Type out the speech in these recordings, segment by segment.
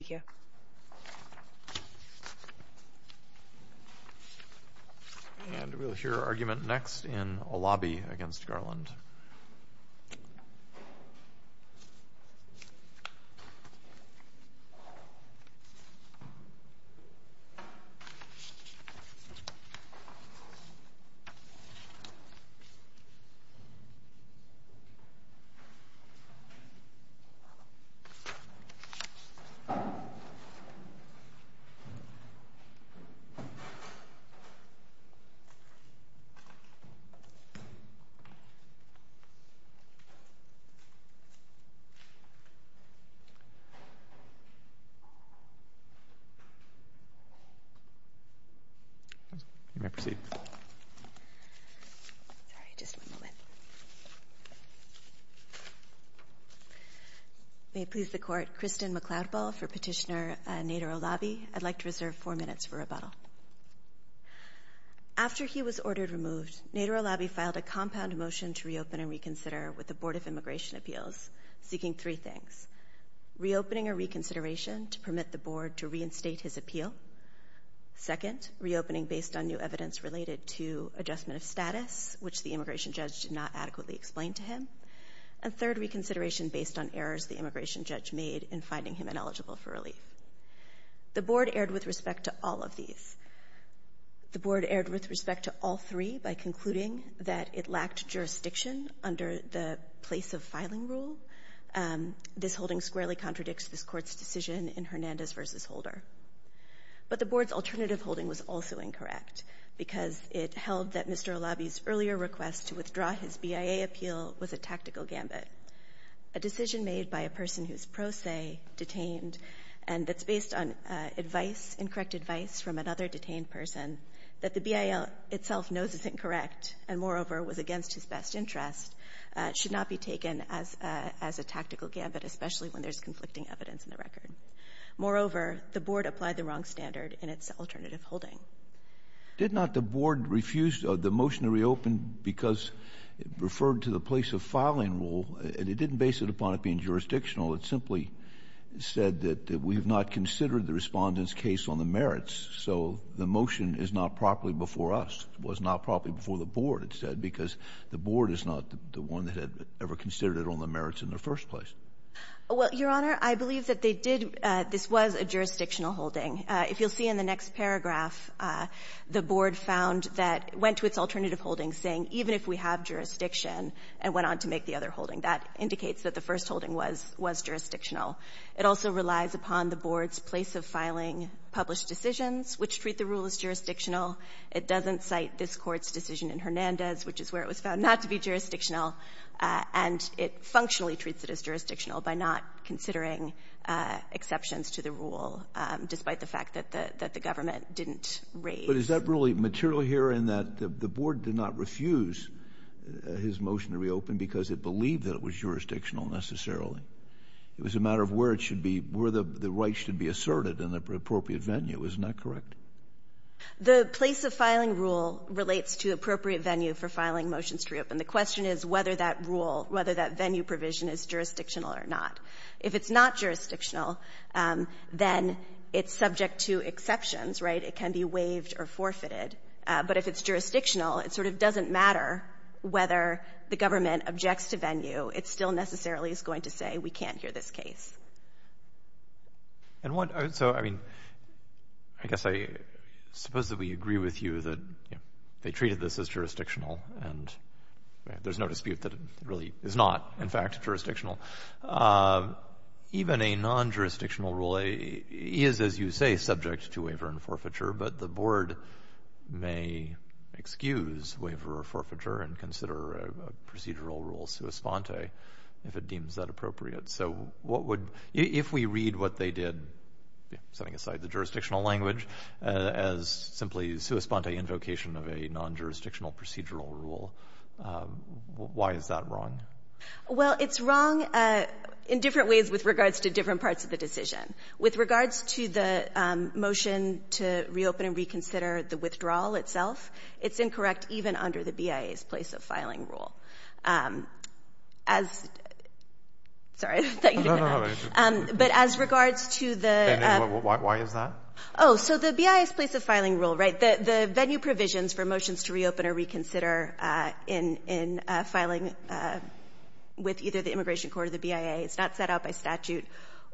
We will hear argument next in Olabi v. Garland. We will hear argument next in Olabi v. Garland. I'd like to reserve four minutes for rebuttal. After he was ordered removed, Nader Olabi filed a compound motion to reopen and reconsider with the Board of Immigration Appeals, seeking three things. Reopening or reconsideration to permit the board to reinstate his appeal. Second, reopening based on new evidence related to adjustment of status, which the immigration judge did not adequately explain to him. And third, reconsideration based on errors the immigration judge made in finding him ineligible for relief. The board erred with respect to all of these. The board erred with respect to all three by concluding that it lacked jurisdiction under the place of filing rule. This holding squarely contradicts this court's decision in Hernandez v. Holder. But the board's alternative holding was also incorrect, because it held that Mr. Olabi's earlier request to withdraw his BIA appeal was a tactical gambit, a decision made by a person who's pro se, detained, and that's based on advice, incorrect advice from another detained person, that the BIA itself knows is incorrect and, moreover, was against his best interest, should not be taken as a tactical gambit, especially when there's conflicting evidence in the record. Moreover, the board applied the wrong standard in its alternative holding. Did not the board refuse the motion to reopen because it referred to the place of filing rule, and it didn't base it upon it being jurisdictional. It simply said that we have not considered the Respondent's case on the merits. So the motion is not properly before us, was not properly before the board, it said, because the board is not the one that had ever considered it on the merits in the first place. Well, Your Honor, I believe that they did — this was a jurisdictional holding. If you'll see in the next paragraph, the board found that — went to its alternative holding saying, even if we have jurisdiction, and went on to make the other holding. That indicates that the first holding was — was jurisdictional. It also relies upon the board's place of filing published decisions, which treat the rule as jurisdictional. It doesn't cite this Court's decision in Hernandez, which is where it was found not to be jurisdictional, and it functionally treats it as jurisdictional by not considering exceptions to the rule, despite the fact that the — that the government didn't raise. But is that really material here in that the board did not refuse his motion to reopen because it believed that it was jurisdictional, necessarily? It was a matter of where it should be — where the right should be asserted in the appropriate venue. Isn't that correct? The place of filing rule relates to appropriate venue for filing motions to reopen. The question is whether that rule — whether that venue provision is jurisdictional or not. If it's not jurisdictional, then it's subject to exceptions, right? It can be waived or forfeited. But if it's jurisdictional, it sort of doesn't matter whether the government objects to venue. It still necessarily is going to say, we can't hear this case. And what — so, I mean, I guess I suppose that we agree with you that they treated this as jurisdictional, and there's no dispute that it really is not, in fact, jurisdictional. Even a non-jurisdictional rule is, as you say, subject to waiver and forfeiture. But the board may excuse waiver or forfeiture and consider a procedural rule sua sponte if it deems that appropriate. So what would — if we read what they did, setting aside the jurisdictional language as simply sua sponte invocation of a non-jurisdictional procedural rule, why is that wrong? Well, it's wrong in different ways with regards to different parts of the decision. With regards to the motion to reopen and reconsider the withdrawal itself, it's incorrect even under the BIA's place of filing rule. As — sorry, I thought you didn't — No, no, no. But as regards to the — Ben, why is that? Oh, so the BIA's place of filing rule, right, the venue provisions for motions to reopen or reconsider in filing with either the Immigration Court or the BIA, it's not set out by statute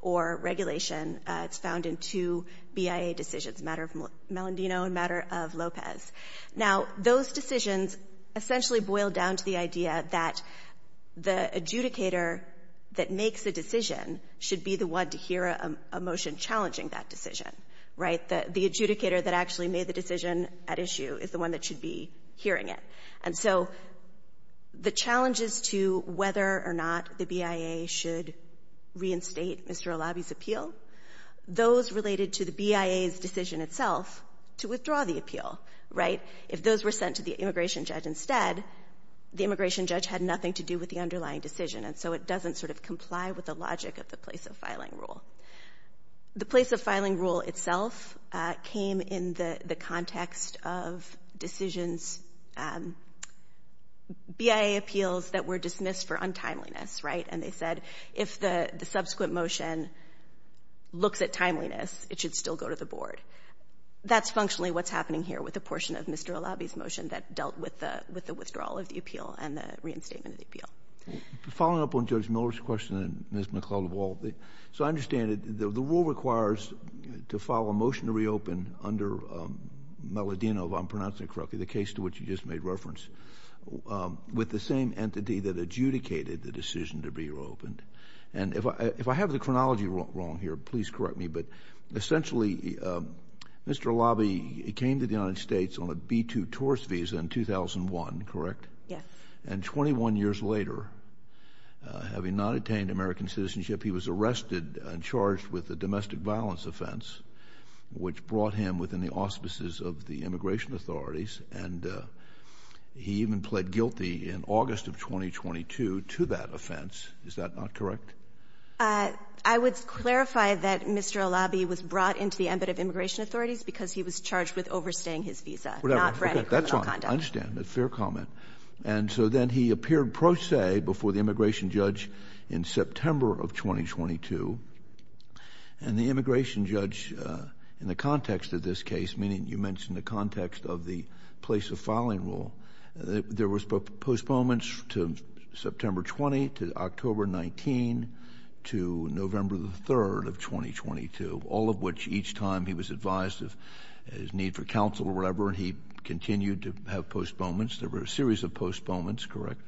or regulation. It's found in two BIA decisions, matter of Melendino and matter of Lopez. Now, those decisions essentially boil down to the idea that the adjudicator that makes a decision should be the one to hear a motion challenging that decision, right? The adjudicator that actually made the decision at issue is the one that should be hearing it. And so the challenges to whether or not the BIA should reinstate Mr. Olabi's appeal, those related to the BIA's decision itself to withdraw the appeal, right? If those were sent to the immigration judge instead, the immigration judge had nothing to do with the underlying decision, and so it doesn't sort of comply with the logic of the place of filing rule. The place of filing rule itself came in the context of decisions, BIA appeals that were dismissed for untimeliness, right? And they said if the subsequent motion looks at timeliness, it should still go to the board. That's functionally what's happening here with a portion of Mr. Olabi's motion that dealt with the withdrawal of the appeal and the reinstatement of the appeal. Following up on Judge Miller's question and Ms. McLeod-Walt, so I understand that the rule requires to file a motion to reopen under Melodino, if I'm pronouncing it correctly, the case to which you just made reference, with the same entity that adjudicated the decision to be reopened. And if I have the chronology wrong here, please correct me. But essentially, Mr. Olabi came to the United States on a B-2 tourist visa in 2001, correct? Yes. And 21 years later, having not attained American citizenship, he was arrested and charged with a domestic violence offense, which brought him within the auspices of the immigration authorities. And he even pled guilty in August of 2022 to that offense. Is that not correct? I would clarify that Mr. Olabi was brought into the embit of immigration authorities because he was charged with overstaying his visa, not frantic criminal conduct. I understand. That's fair comment. And so then he appeared pro se before the immigration judge in September of 2022. And the immigration judge, in the context of this case, meaning you mentioned the context of the place of filing rule, there was postponements to September 20, to October 19, to November the 3rd of 2022, all of which each time he was advised of his need for counsel or whatever, he continued to have postponements. There were a series of postponements, correct?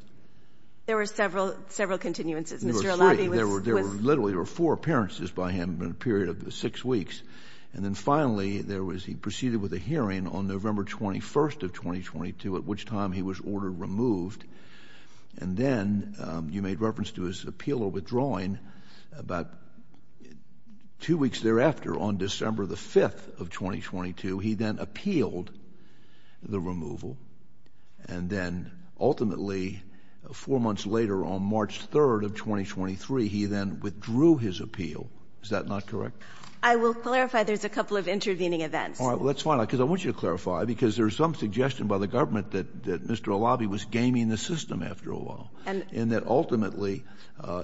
There were several, several continuances. There were three. There were literally four appearances by him in a period of six weeks. And then finally, there was, he proceeded with a hearing on November 21st of 2022, at which time he was ordered removed. And then you made reference to his appeal or withdrawing about two weeks thereafter, on December the 5th of 2022, he then appealed the removal. And then ultimately, four months later, on March 3rd of 2023, he then withdrew his appeal. Is that not correct? I will clarify. There's a couple of intervening events. All right, let's find out, because I want you to clarify, because there's some suggestion by the government that Mr. Alabi was gaming the system after a while. And that ultimately,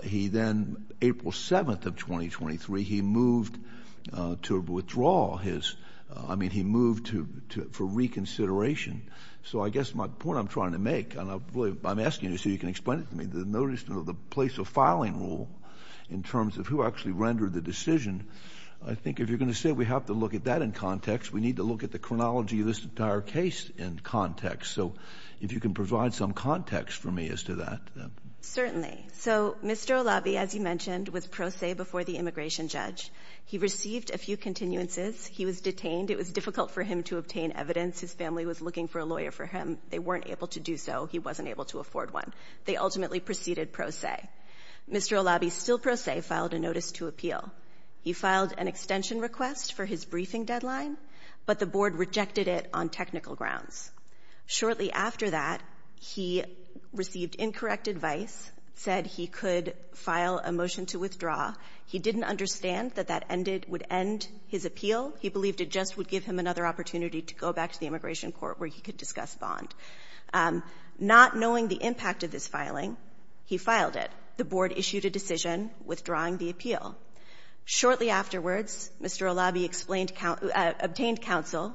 he then, April 7th of 2023, he moved to withdraw his, I mean, he moved to, for reconsideration. So I guess my point I'm trying to make, and I'm asking you so you can explain it to me, the notice of the place of filing rule in terms of who actually rendered the decision. I think if you're going to say we have to look at that in context, we need to look at the chronology of this entire case in context. So if you can provide some context for me as to that. Certainly. So Mr. Alabi, as you mentioned, was pro se before the immigration judge. He received a few continuances. He was detained. It was difficult for him to obtain evidence. His family was looking for a lawyer for him. They weren't able to do so. He wasn't able to afford one. They ultimately proceeded pro se. Mr. Alabi, still pro se, filed a notice to appeal. He filed an extension request for his briefing deadline, but the board rejected it on technical grounds. Shortly after that, he received incorrect advice, said he could file a motion to withdraw. He didn't understand that that ended, would end his appeal. He believed it just would give him another opportunity to go back to the immigration court where he could discuss bond. Not knowing the impact of this filing, he filed it. The board issued a decision withdrawing the appeal. Shortly afterwards, Mr. Alabi obtained counsel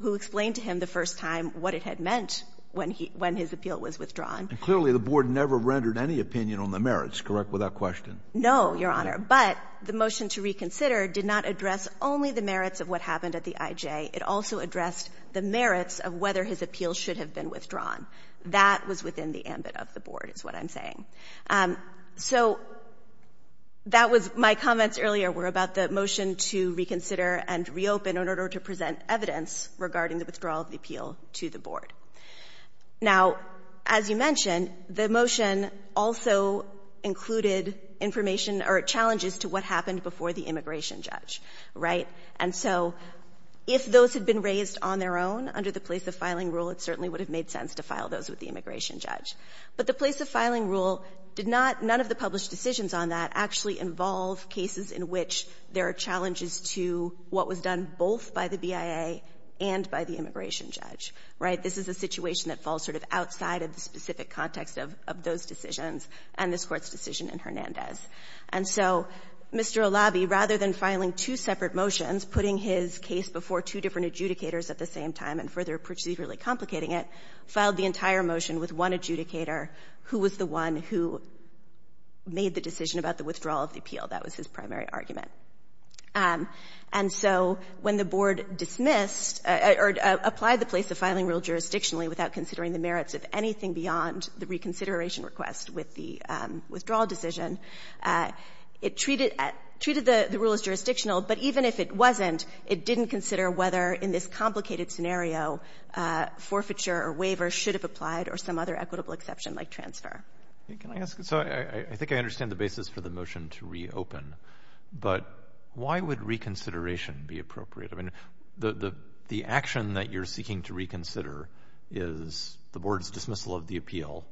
who explained to him the first time what it had meant when his appeal was withdrawn. And clearly the board never rendered any opinion on the merits, correct, without question? No, Your Honor. But the motion to reconsider did not address only the merits of what happened at the IJ. It also addressed the merits of whether his appeal should have been withdrawn. That was within the ambit of the board, is what I'm saying. So that was my comments earlier were about the motion to reconsider and reopen in order to present evidence regarding the withdrawal of the appeal to the board. Now, as you mentioned, the motion also included information or challenges to what happened before the immigration judge, right? And so if those had been raised on their own under the place of filing rule, it certainly would have made sense to file those with the immigration judge. But the place of filing rule did not — none of the published decisions on that actually involve cases in which there are challenges to what was done both by the BIA and by the immigration judge, right? This is a situation that falls sort of outside of the specific context of those decisions and this Court's decision in Hernandez. And so Mr. Olabi, rather than filing two separate motions, putting his case before two different adjudicators at the same time and further procedurally complicating it, filed the entire motion with one adjudicator who was the one who made the decision about the withdrawal of the appeal. That was his primary argument. And so when the board dismissed or applied the place of filing rule jurisdictionally without considering the merits of anything beyond the reconsideration request with the withdrawal decision, it treated the rule as jurisdictional, but even if it wasn't, it didn't consider whether in this complicated scenario forfeiture or waiver should have applied or some other equitable exception like transfer. Can I ask? So I think I understand the basis for the motion to reopen, but why would reconsideration be appropriate? I mean, the action that you're seeking to reconsider is the board's dismissal of the appeal.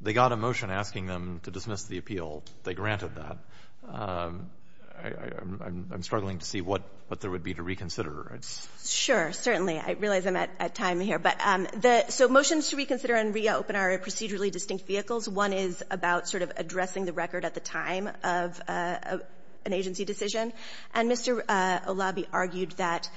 They got a motion asking them to dismiss the appeal. They granted that. I'm struggling to see what there would be to reconsider. Sure, certainly. I realize I'm at time here. So motions to reconsider and reopen are procedurally distinct vehicles. One is about sort of addressing the record at the time of an agency decision. And Mr. Olabi argued that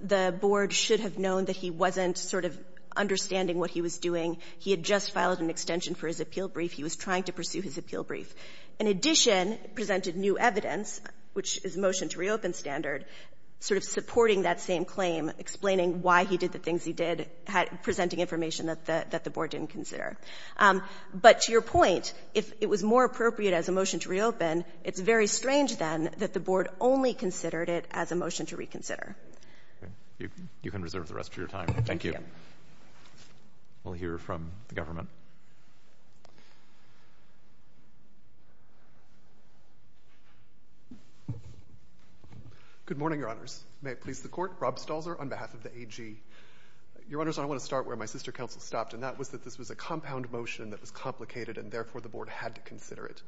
the board should have known that he wasn't sort of understanding what he was doing. He had just filed an extension for his appeal brief. He was trying to pursue his appeal brief. In addition, presented new evidence, which is motion to reopen standard, sort of supporting that same claim, explaining why he did the things he did, presenting information that the board didn't consider. But to your point, if it was more appropriate as a motion to reopen, it's very strange then that the board only considered it as a motion to reconsider. You can reserve the rest of your time. Thank you. We'll hear from the government. Good morning, Your Honors. May it please the Court. Rob Stalzer on behalf of the AG. Your Honors, I want to start where my sister counsel stopped, and that was that this was a compound motion that was complicated, and therefore the board had to consider it.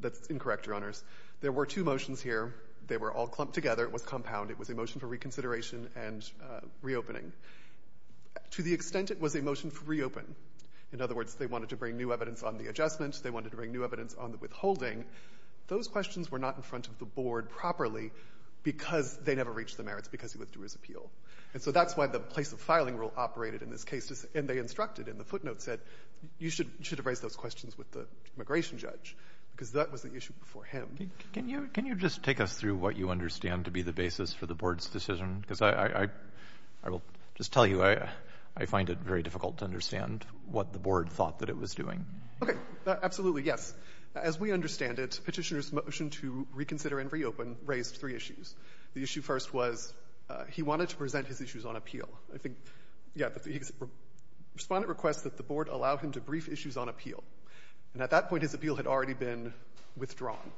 That's incorrect, Your Honors. There were two motions here. They were all clumped together. It was compound. It was a motion for reconsideration and reopening. To the extent it was a motion for reopen, in other words, they wanted to bring new evidence on the adjustment. They wanted to bring new evidence on the withholding. Those questions were not in front of the board properly because they never reached the merits because he withdrew his appeal. And so that's why the place of filing rule operated in this case, and they instructed in the footnote said, you should have raised those questions with the immigration judge because that was the issue before him. Can you just take us through what you understand to be the basis for the board's decision? Because I will just tell you I find it very difficult to understand what the board thought that it was doing. Okay. Absolutely. Yes. As we understand it, petitioner's motion to reconsider and reopen raised three issues. The issue first was he wanted to present his issues on appeal. I think, yeah, the respondent requests that the board allow him to brief issues on appeal. And at that point, his appeal had already been withdrawn.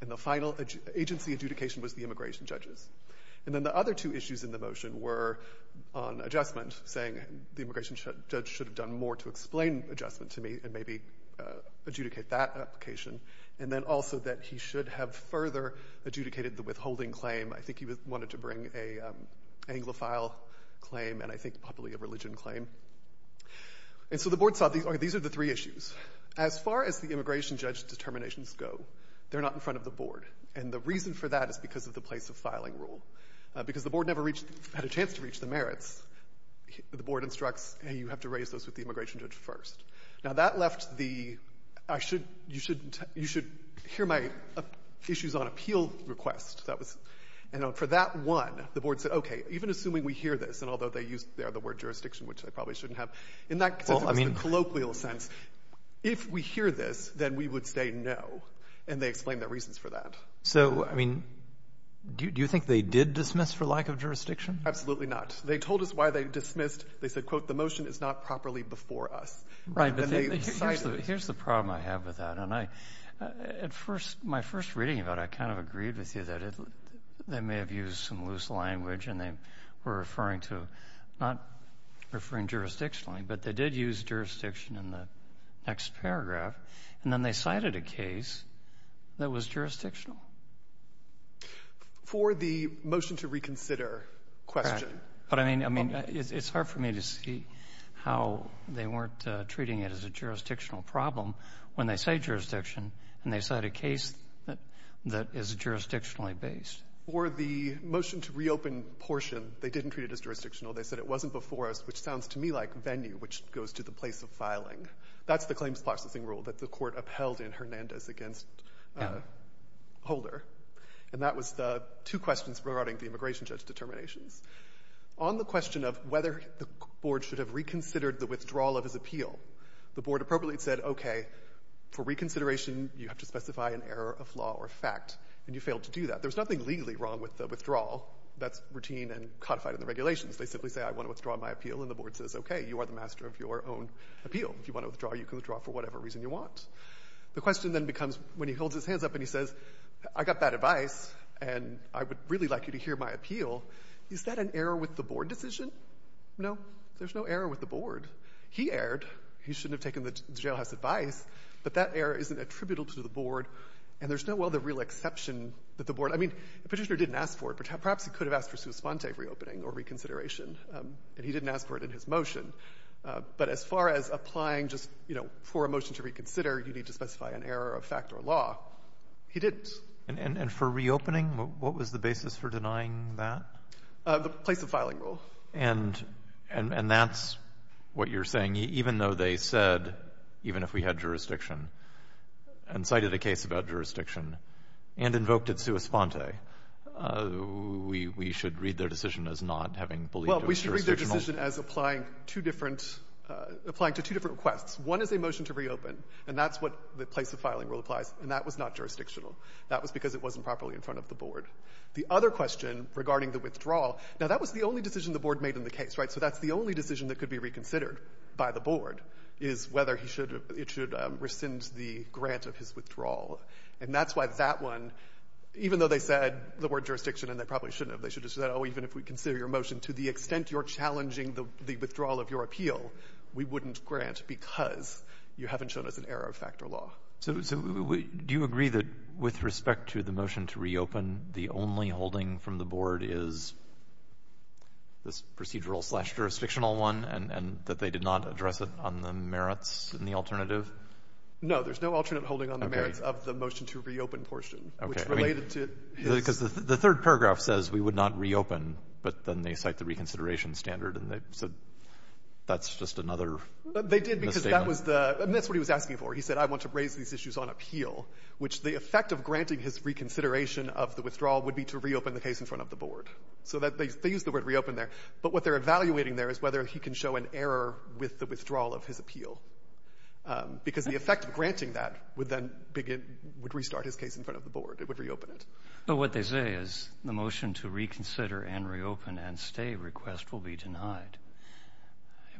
And the final agency adjudication was the immigration judges. And then the other two issues in the motion were on adjustment, saying the immigration judge should have done more to explain adjustment to me and maybe adjudicate that application. And then also that he should have further adjudicated the withholding claim. I think he wanted to bring a anglophile claim and I think probably a religion claim. And so the board saw these are the three issues. As far as the immigration judge determinations go, they're not in front of the board. And the reason for that is because of the place of filing rule. Because the board never had a chance to reach the merits, the board instructs, hey, you have to raise those with the immigration judge first. Now, that left the, I should, you should, you should hear my issues on appeal request. That was, and for that one, the board said, okay, even assuming we hear this, and although they used there the word jurisdiction, which they probably shouldn't have, in that sense, the colloquial sense, if we hear this, then we would say no. And they explained their reasons for that. So, I mean, do you think they did dismiss for lack of jurisdiction? Absolutely not. They told us why they dismissed. They said, quote, the motion is not properly before us. Right. Here's the problem I have with that. And I, at first, my first reading of it, I kind of agreed with you that they may have used some loose language and they were referring to, not referring jurisdictionally, but they did use jurisdiction in the next paragraph. And then they cited a case that was jurisdictional. For the motion to reconsider question. Right. But, I mean, I mean, it's hard for me to see how they weren't treating it as a jurisdictional problem when they say jurisdiction and they cite a case that is jurisdictionally based. For the motion to reopen portion, they didn't treat it as jurisdictional. They said it wasn't before us, which sounds to me like venue, which goes to the place of filing. That's the claims processing rule that the Court upheld in Hernandez against Holder. And that was the two questions regarding the immigration judge determinations. On the question of whether the board should have reconsidered the withdrawal of his appeal, the board appropriately said, okay, for reconsideration, you have to specify an error of law or fact. And you failed to do that. There's nothing legally wrong with the withdrawal. That's routine and codified in the regulations. They simply say, I want to withdraw my appeal. And the board says, okay, you are the master of your own appeal. If you want to withdraw, you can withdraw for whatever reason you want. The question then becomes, when he holds his hands up and he says, I got that advice, and I would really like you to hear my appeal, is that an error with the board decision? No. There's no error with the board. He erred. He shouldn't have taken the jailhouse advice. But that error isn't attributable to the board, and there's no other real exception that the board — I mean, the petitioner didn't ask for it, but perhaps he could have asked for sua sponte reopening or reconsideration, and he didn't ask for it in his motion. But as far as applying just, you know, for a motion to reconsider, you need to specify an error of fact or law, he didn't. And for reopening, what was the basis for denying that? The place of filing rule. And that's what you're saying, even though they said, even if we had jurisdiction and cited a case about jurisdiction and invoked it sua sponte, we should read their decision as not having believed it was jurisdictional? The decision as applying to two different requests. One is a motion to reopen, and that's what the place of filing rule applies, and that was not jurisdictional. That was because it wasn't properly in front of the board. The other question regarding the withdrawal — now, that was the only decision the board made in the case, right? So that's the only decision that could be reconsidered by the board, is whether it should rescind the grant of his withdrawal. And that's why that one, even though they said the word jurisdiction, and they probably shouldn't have, they should have said, oh, even if we consider your motion to the extent you're challenging the withdrawal of your appeal, we wouldn't grant because you haven't shown us an error of factor law. So do you agree that with respect to the motion to reopen, the only holding from the board is this procedural-slash-jurisdictional one, and that they did not address it on the merits in the alternative? No. There's no alternate holding on the merits of the motion to reopen portion, which related to his — Okay. Because the third paragraph says we would not reopen, but then they cite the reconsideration standard, and they said that's just another misstatement. They did because that was the — and that's what he was asking for. He said, I want to raise these issues on appeal, which the effect of granting his reconsideration of the withdrawal would be to reopen the case in front of the board. So they used the word reopen there. But what they're evaluating there is whether he can show an error with the withdrawal of his appeal, because the effect of granting that would then begin — would restart his case in front of the board. It would reopen it. But what they say is the motion to reconsider and reopen and stay request will be denied.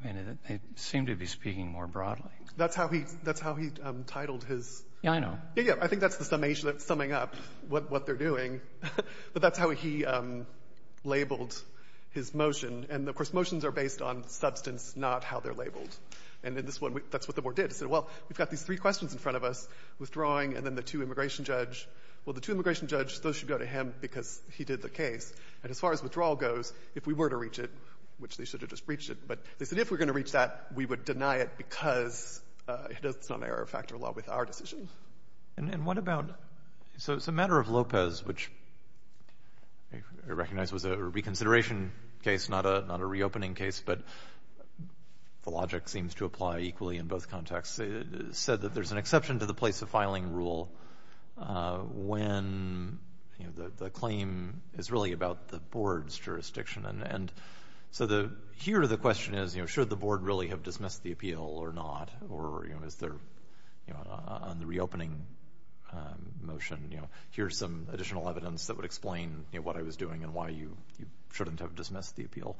I mean, they seem to be speaking more broadly. That's how he — that's how he titled his — Yeah, I know. Yeah, yeah. I think that's the summation — summing up what they're doing. But that's how he labeled his motion. And, of course, motions are based on substance, not how they're labeled. And in this one, that's what the board did. It said, well, we've got these three questions in front of us, withdrawing, and then the two-immigration judge — well, the two-immigration judge, those should go to him because he did the case. And as far as withdrawal goes, if we were to reach it, which they should have just reached it, but they said if we're going to reach that, we would deny it because it's not an error of factor law with our decision. And what about — so it's a matter of Lopez, which I recognize was a reconsideration case, not a — not a reopening case, but the logic seems to apply equally in both said that there's an exception to the place-of-filing rule when, you know, the claim is really about the board's jurisdiction. And so the — here, the question is, you know, should the board really have dismissed the appeal or not? Or, you know, is there, you know, on the reopening motion, you know, here's some additional evidence that would explain, you know, what I was doing and why you shouldn't have dismissed the appeal.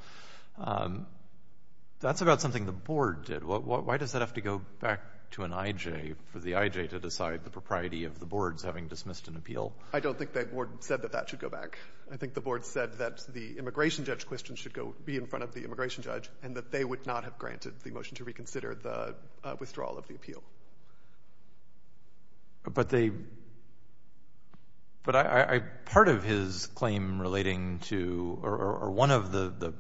That's about something the board did. Why does that have to go back to an IJ, for the IJ to decide the propriety of the board's having dismissed an appeal? I don't think the board said that that should go back. I think the board said that the immigration judge question should go — be in front of the immigration judge, and that they would not have granted the motion to reconsider the withdrawal of the appeal. But they — but I — part of his claim relating to — or one of the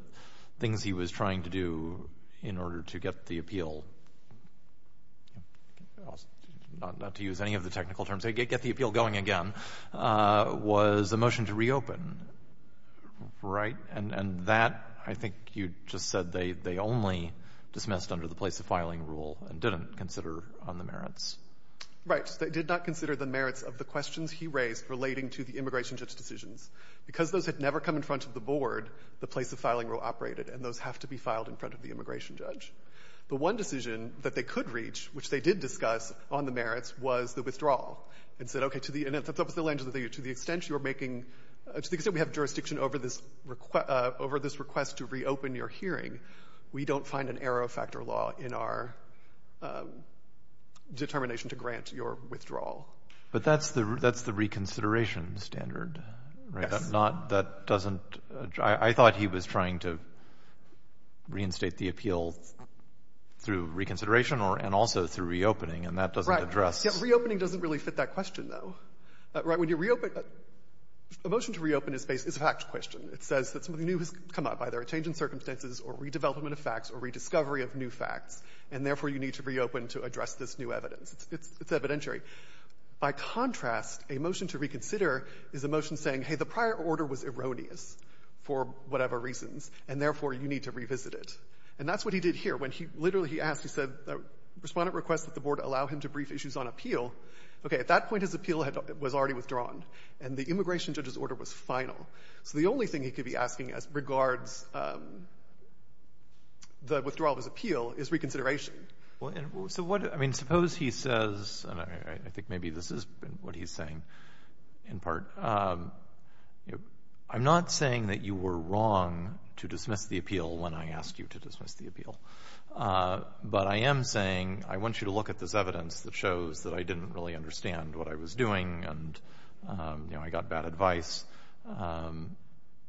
things he was trying to do in order to get the appeal — not to use any of the technical terms, get the appeal going again — was a motion to reopen, right? And that, I think you just said, they only dismissed under the place-of-filing rule and didn't consider on the merits. Right. They did not consider the merits of the questions he raised relating to the immigration judge decisions. Because those had never come in front of the board, the place-of-filing rule operated, and those have to be filed in front of the immigration judge. But one decision that they could reach, which they did discuss on the merits, was the withdrawal. And said, okay, to the — and that's obviously the length of the — to the extent you're making — to the extent we have jurisdiction over this — over this request to reopen your hearing, we don't find an error-of-factor law in our determination to grant your withdrawal. But that's the — that's the reconsideration standard, right? Yes. Not — that doesn't — I thought he was trying to reinstate the appeal through reconsideration or — and also through reopening, and that doesn't address — Right. Yeah, reopening doesn't really fit that question, though. Right? When you reopen — a motion to reopen is a fact question. It says that something new has come up, either a change in circumstances or redevelopment of facts or rediscovery of new facts. And therefore, you need to reopen to address this new evidence. It's evidentiary. By contrast, a motion to reconsider is a motion saying, hey, the prior order was erroneous for whatever reasons, and therefore, you need to revisit it. And that's what he did here. When he — literally, he asked, he said, the Respondent requests that the Board allow him to brief issues on appeal. Okay, at that point, his appeal had — was already withdrawn, and the immigration judge's order was final. So the only thing he could be asking as regards the withdrawal of his appeal is reconsideration. Well, and — so what — I mean, suppose he says — and I think maybe this is what he's saying in part — I'm not saying that you were wrong to dismiss the appeal when I asked you to dismiss the appeal. But I am saying, I want you to look at this evidence that shows that I didn't really understand what I was doing and, you know, I got bad advice.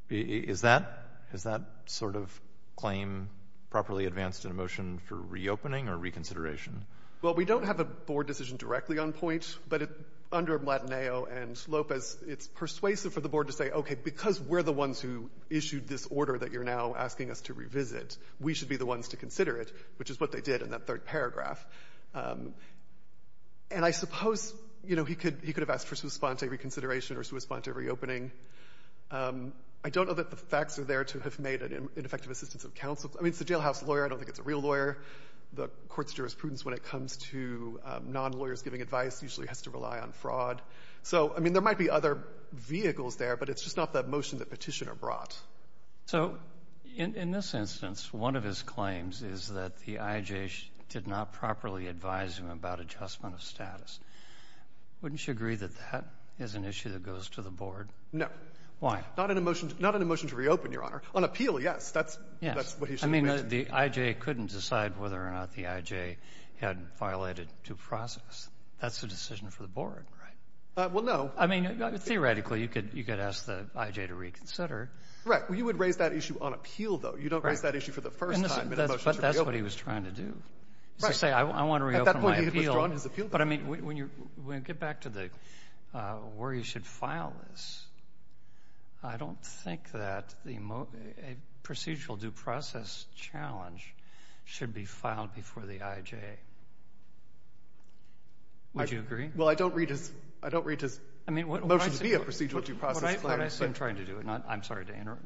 Is that — is that sort of claim properly advanced in a motion for reopening or reconsideration? Well, we don't have a Board decision directly on point, but under Blatineo and Lopez, it's persuasive for the Board to say, okay, because we're the ones who issued this order that you're now asking us to revisit, we should be the ones to consider it, which is what they did in that third paragraph. And I suppose, you know, he could — he could have asked for sua sponte reconsideration or sua sponte reopening. I don't know that the facts are there to have made an ineffective assistance of counsel. I mean, it's a jailhouse lawyer. I don't think it's a real lawyer. The court's jurisprudence when it comes to non-lawyers giving advice usually has to rely on fraud. So, I mean, there might be other vehicles there, but it's just not that motion that petitioner brought. So in this instance, one of his claims is that the IJ did not properly advise him about adjustment of status. Wouldn't you agree that that is an issue that goes to the Board? No. Why? Not in a motion — not in a motion to reopen, Your Honor. On appeal, yes. That's — Yes. That's what he should have mentioned. I mean, the IJ couldn't decide whether or not the IJ had violated due process. That's a decision for the Board. Right. Well, no. I mean, theoretically, you could — you could ask the IJ to reconsider. Right. Well, you would raise that issue on appeal, though. Right. You don't raise that issue for the first time in a motion to reopen. But that's what he was trying to do, is to say, I want to reopen my appeal. Right. When you get back to the — where you should file this, I don't think that the procedural due process challenge should be filed before the IJ. Would you agree? Well, I don't read his — I don't read his motion to be a procedural due process claim, but — What I see him trying to do — and I'm sorry to interrupt.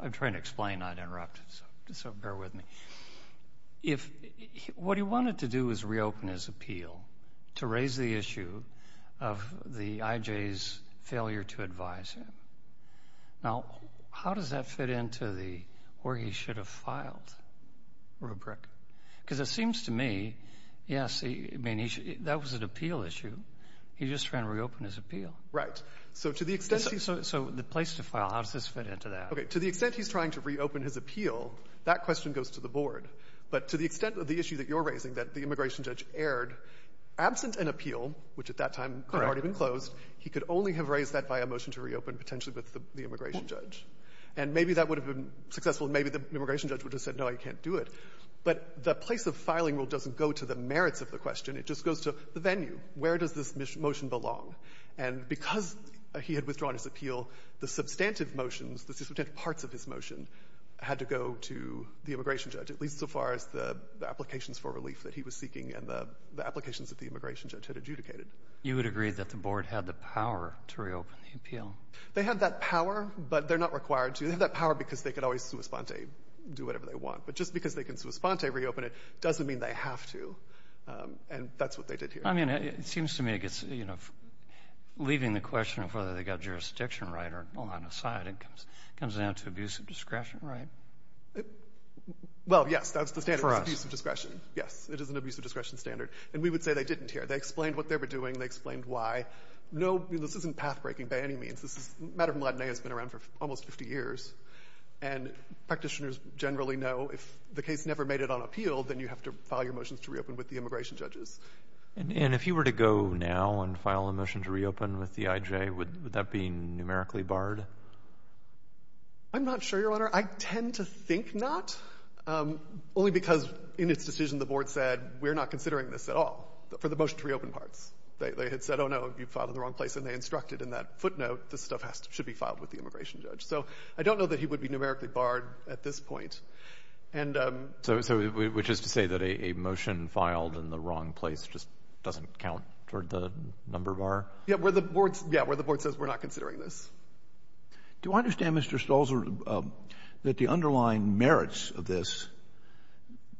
I'm trying to explain, not interrupt. So bear with me. If — what he wanted to do was reopen his appeal to raise the issue of the IJ's failure to advise him. Now, how does that fit into the where he should have filed rubric? Because it seems to me, yes, I mean, that was an appeal issue. He just ran to reopen his appeal. Right. So to the extent he — So the place to file, how does this fit into that? Okay. To the extent he's trying to reopen his appeal, that question goes to the board. But to the extent of the issue that you're raising, that the immigration judge erred, absent an appeal, which at that time could have already been closed, he could only have raised that via a motion to reopen potentially with the immigration judge. And maybe that would have been successful, and maybe the immigration judge would have said, no, you can't do it. But the place of filing rule doesn't go to the merits of the question. It just goes to the venue. Where does this motion belong? And because he had withdrawn his appeal, the substantive motions, the substantive parts of his motion had to go to the immigration judge, at least so far as the applications for relief that he was seeking and the applications that the immigration judge had adjudicated. You would agree that the board had the power to reopen the appeal? They had that power, but they're not required to. They have that power because they could always sua sponte, do whatever they want. But just because they can sua sponte reopen it doesn't mean they have to. And that's what they did here. I mean, it seems to me it gets, you know, leaving the question of whether they got jurisdiction right or not aside, it comes down to abuse of discretion. Right? Well, yes, that's the standard. For us. It's abuse of discretion. Yes, it is an abuse of discretion standard. And we would say they didn't here. They explained what they were doing. They explained why. No, this isn't pathbreaking by any means. This is a matter that has been around for almost 50 years. And practitioners generally know if the case never made it on appeal, then you have to file your motions to reopen with the immigration judges. And if you were to go now and file a motion to reopen with the IJ, would that be numerically barred? I'm not sure, Your Honor. I tend to think not. Only because in its decision the board said, we're not considering this at all for the motion to reopen parts. They had said, oh, no, you filed in the wrong place. And they instructed in that footnote, this stuff should be filed with the immigration judge. So I don't know that he would be numerically barred at this point. So which is to say that a motion filed in the wrong place just doesn't count toward the number bar? Yeah, where the board says we're not considering this. Do I understand, Mr. Stolzer, that the underlying merits of this,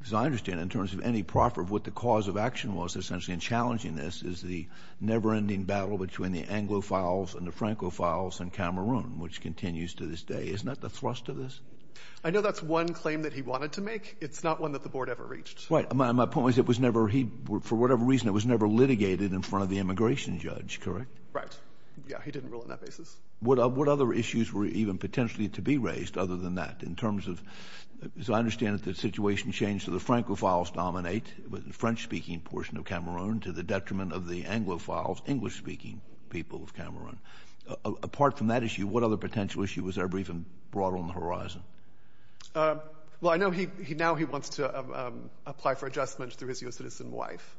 as I understand it, in terms of any proffer of what the cause of action was essentially in challenging this, is the never-ending battle between the Anglophiles and the Francophiles in Cameroon, which continues to this day. Isn't that the thrust of this? I know that's one claim that he wanted to make. It's not one that the board ever reached. Right. My point was, for whatever reason, it was never litigated in front of the immigration judge, correct? Right. Yeah, he didn't rule on that basis. What other issues were even potentially to be raised other than that in terms of, as I understand it, the situation changed to the Francophiles dominate, the French-speaking portion of Cameroon, to the detriment of the Anglophiles, English-speaking people of Cameroon. Apart from that issue, what other potential issue was ever even brought to the board on the horizon? Well, I know now he wants to apply for adjustment through his U.S. citizen wife.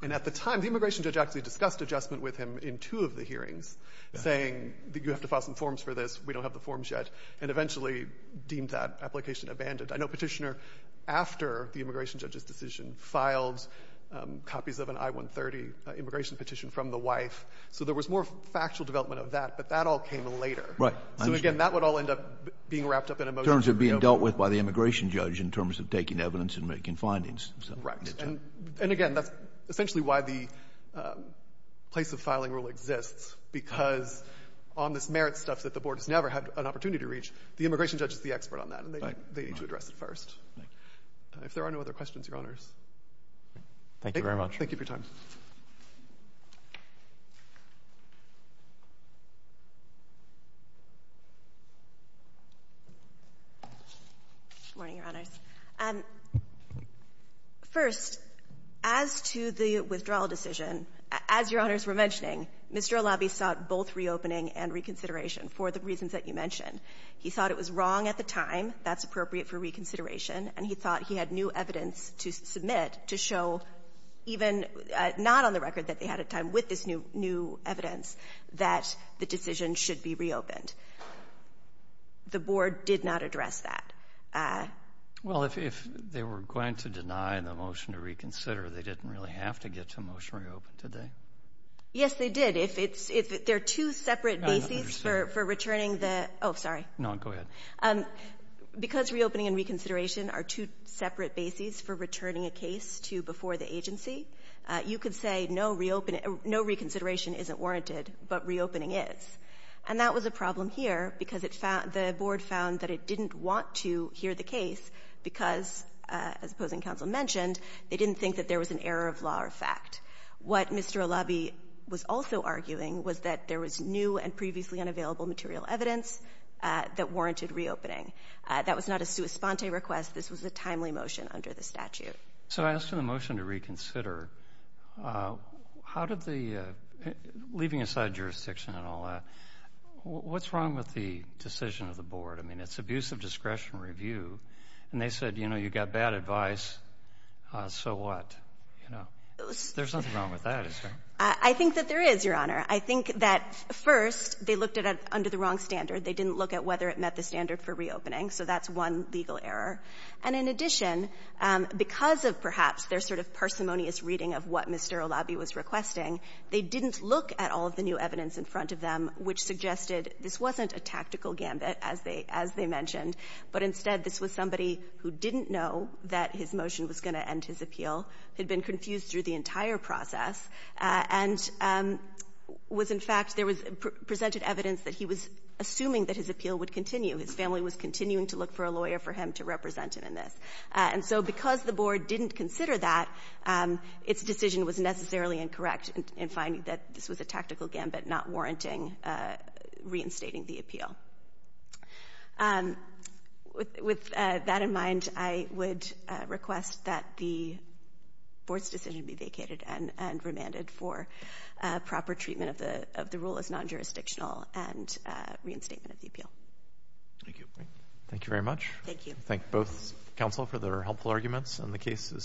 And at the time, the immigration judge actually discussed adjustment with him in two of the hearings, saying that you have to file some forms for this, we don't have the forms yet, and eventually deemed that application abandoned. I know Petitioner, after the immigration judge's decision, filed copies of an I-130 immigration petition from the wife. So there was more factual development of that, but that all came later. Right. So again, that would all end up being wrapped up in a motion. In terms of being dealt with by the immigration judge in terms of taking evidence and making findings. Right. And again, that's essentially why the place of filing rule exists, because on this merit stuff that the board has never had an opportunity to reach, the immigration judge is the expert on that, and they need to address it first. Thank you. If there are no other questions, Your Honors. Thank you very much. Thank you for your time. Good morning, Your Honors. First, as to the withdrawal decision, as Your Honors were mentioning, Mr. Olabi sought both reopening and reconsideration for the reasons that you mentioned. He thought it was wrong at the time, that's appropriate for reconsideration, and he thought he had new evidence to submit to show even not on the record that they had a time with this new evidence, that the decision should be reopened. The board did not address that. Well, if they were going to deny the motion to reconsider, they didn't really have to get to a motion to reopen, did they? Yes, they did. There are two separate bases for returning the... Oh, sorry. No, go ahead. Because reopening and reconsideration are two separate bases for returning a No reconsideration isn't warranted, but reopening is. And that was a problem here because the board found that it didn't want to hear the case because, as opposing counsel mentioned, they didn't think that there was an error of law or fact. What Mr. Olabi was also arguing was that there was new and previously unavailable material evidence that warranted reopening. That was not a sua sponte request. This was a timely motion under the statute. So I asked for the motion to reconsider. How did the... Leaving aside jurisdiction and all that, what's wrong with the decision of the board? I mean, it's abuse of discretion review. And they said, you know, you got bad advice, so what? There's nothing wrong with that, is there? I think that there is, Your Honor. I think that, first, they looked at it under the wrong standard. They didn't look at whether it met the standard for reopening. So that's one legal error. And in addition, because of perhaps their sort of parsimonious reading of what Mr. Olabi was requesting, they didn't look at all of the new evidence in front of them, which suggested this wasn't a tactical gambit, as they mentioned. But instead, this was somebody who didn't know that his motion was going to end his appeal, had been confused through the entire process, and was, in fact, there was presented evidence that he was assuming that his appeal would continue. His family was continuing to look for a lawyer for him to represent him in this. And so because the board didn't consider that, its decision was necessarily incorrect in finding that this was a tactical gambit not warranting reinstating the appeal. With that in mind, I would request that the board's decision be vacated and remanded for proper treatment of the rule as non-jurisdictional and reinstatement of the appeal. Thank you. Thank you very much. Thank you. Thank both counsel for their helpful arguments, and the case is submitted.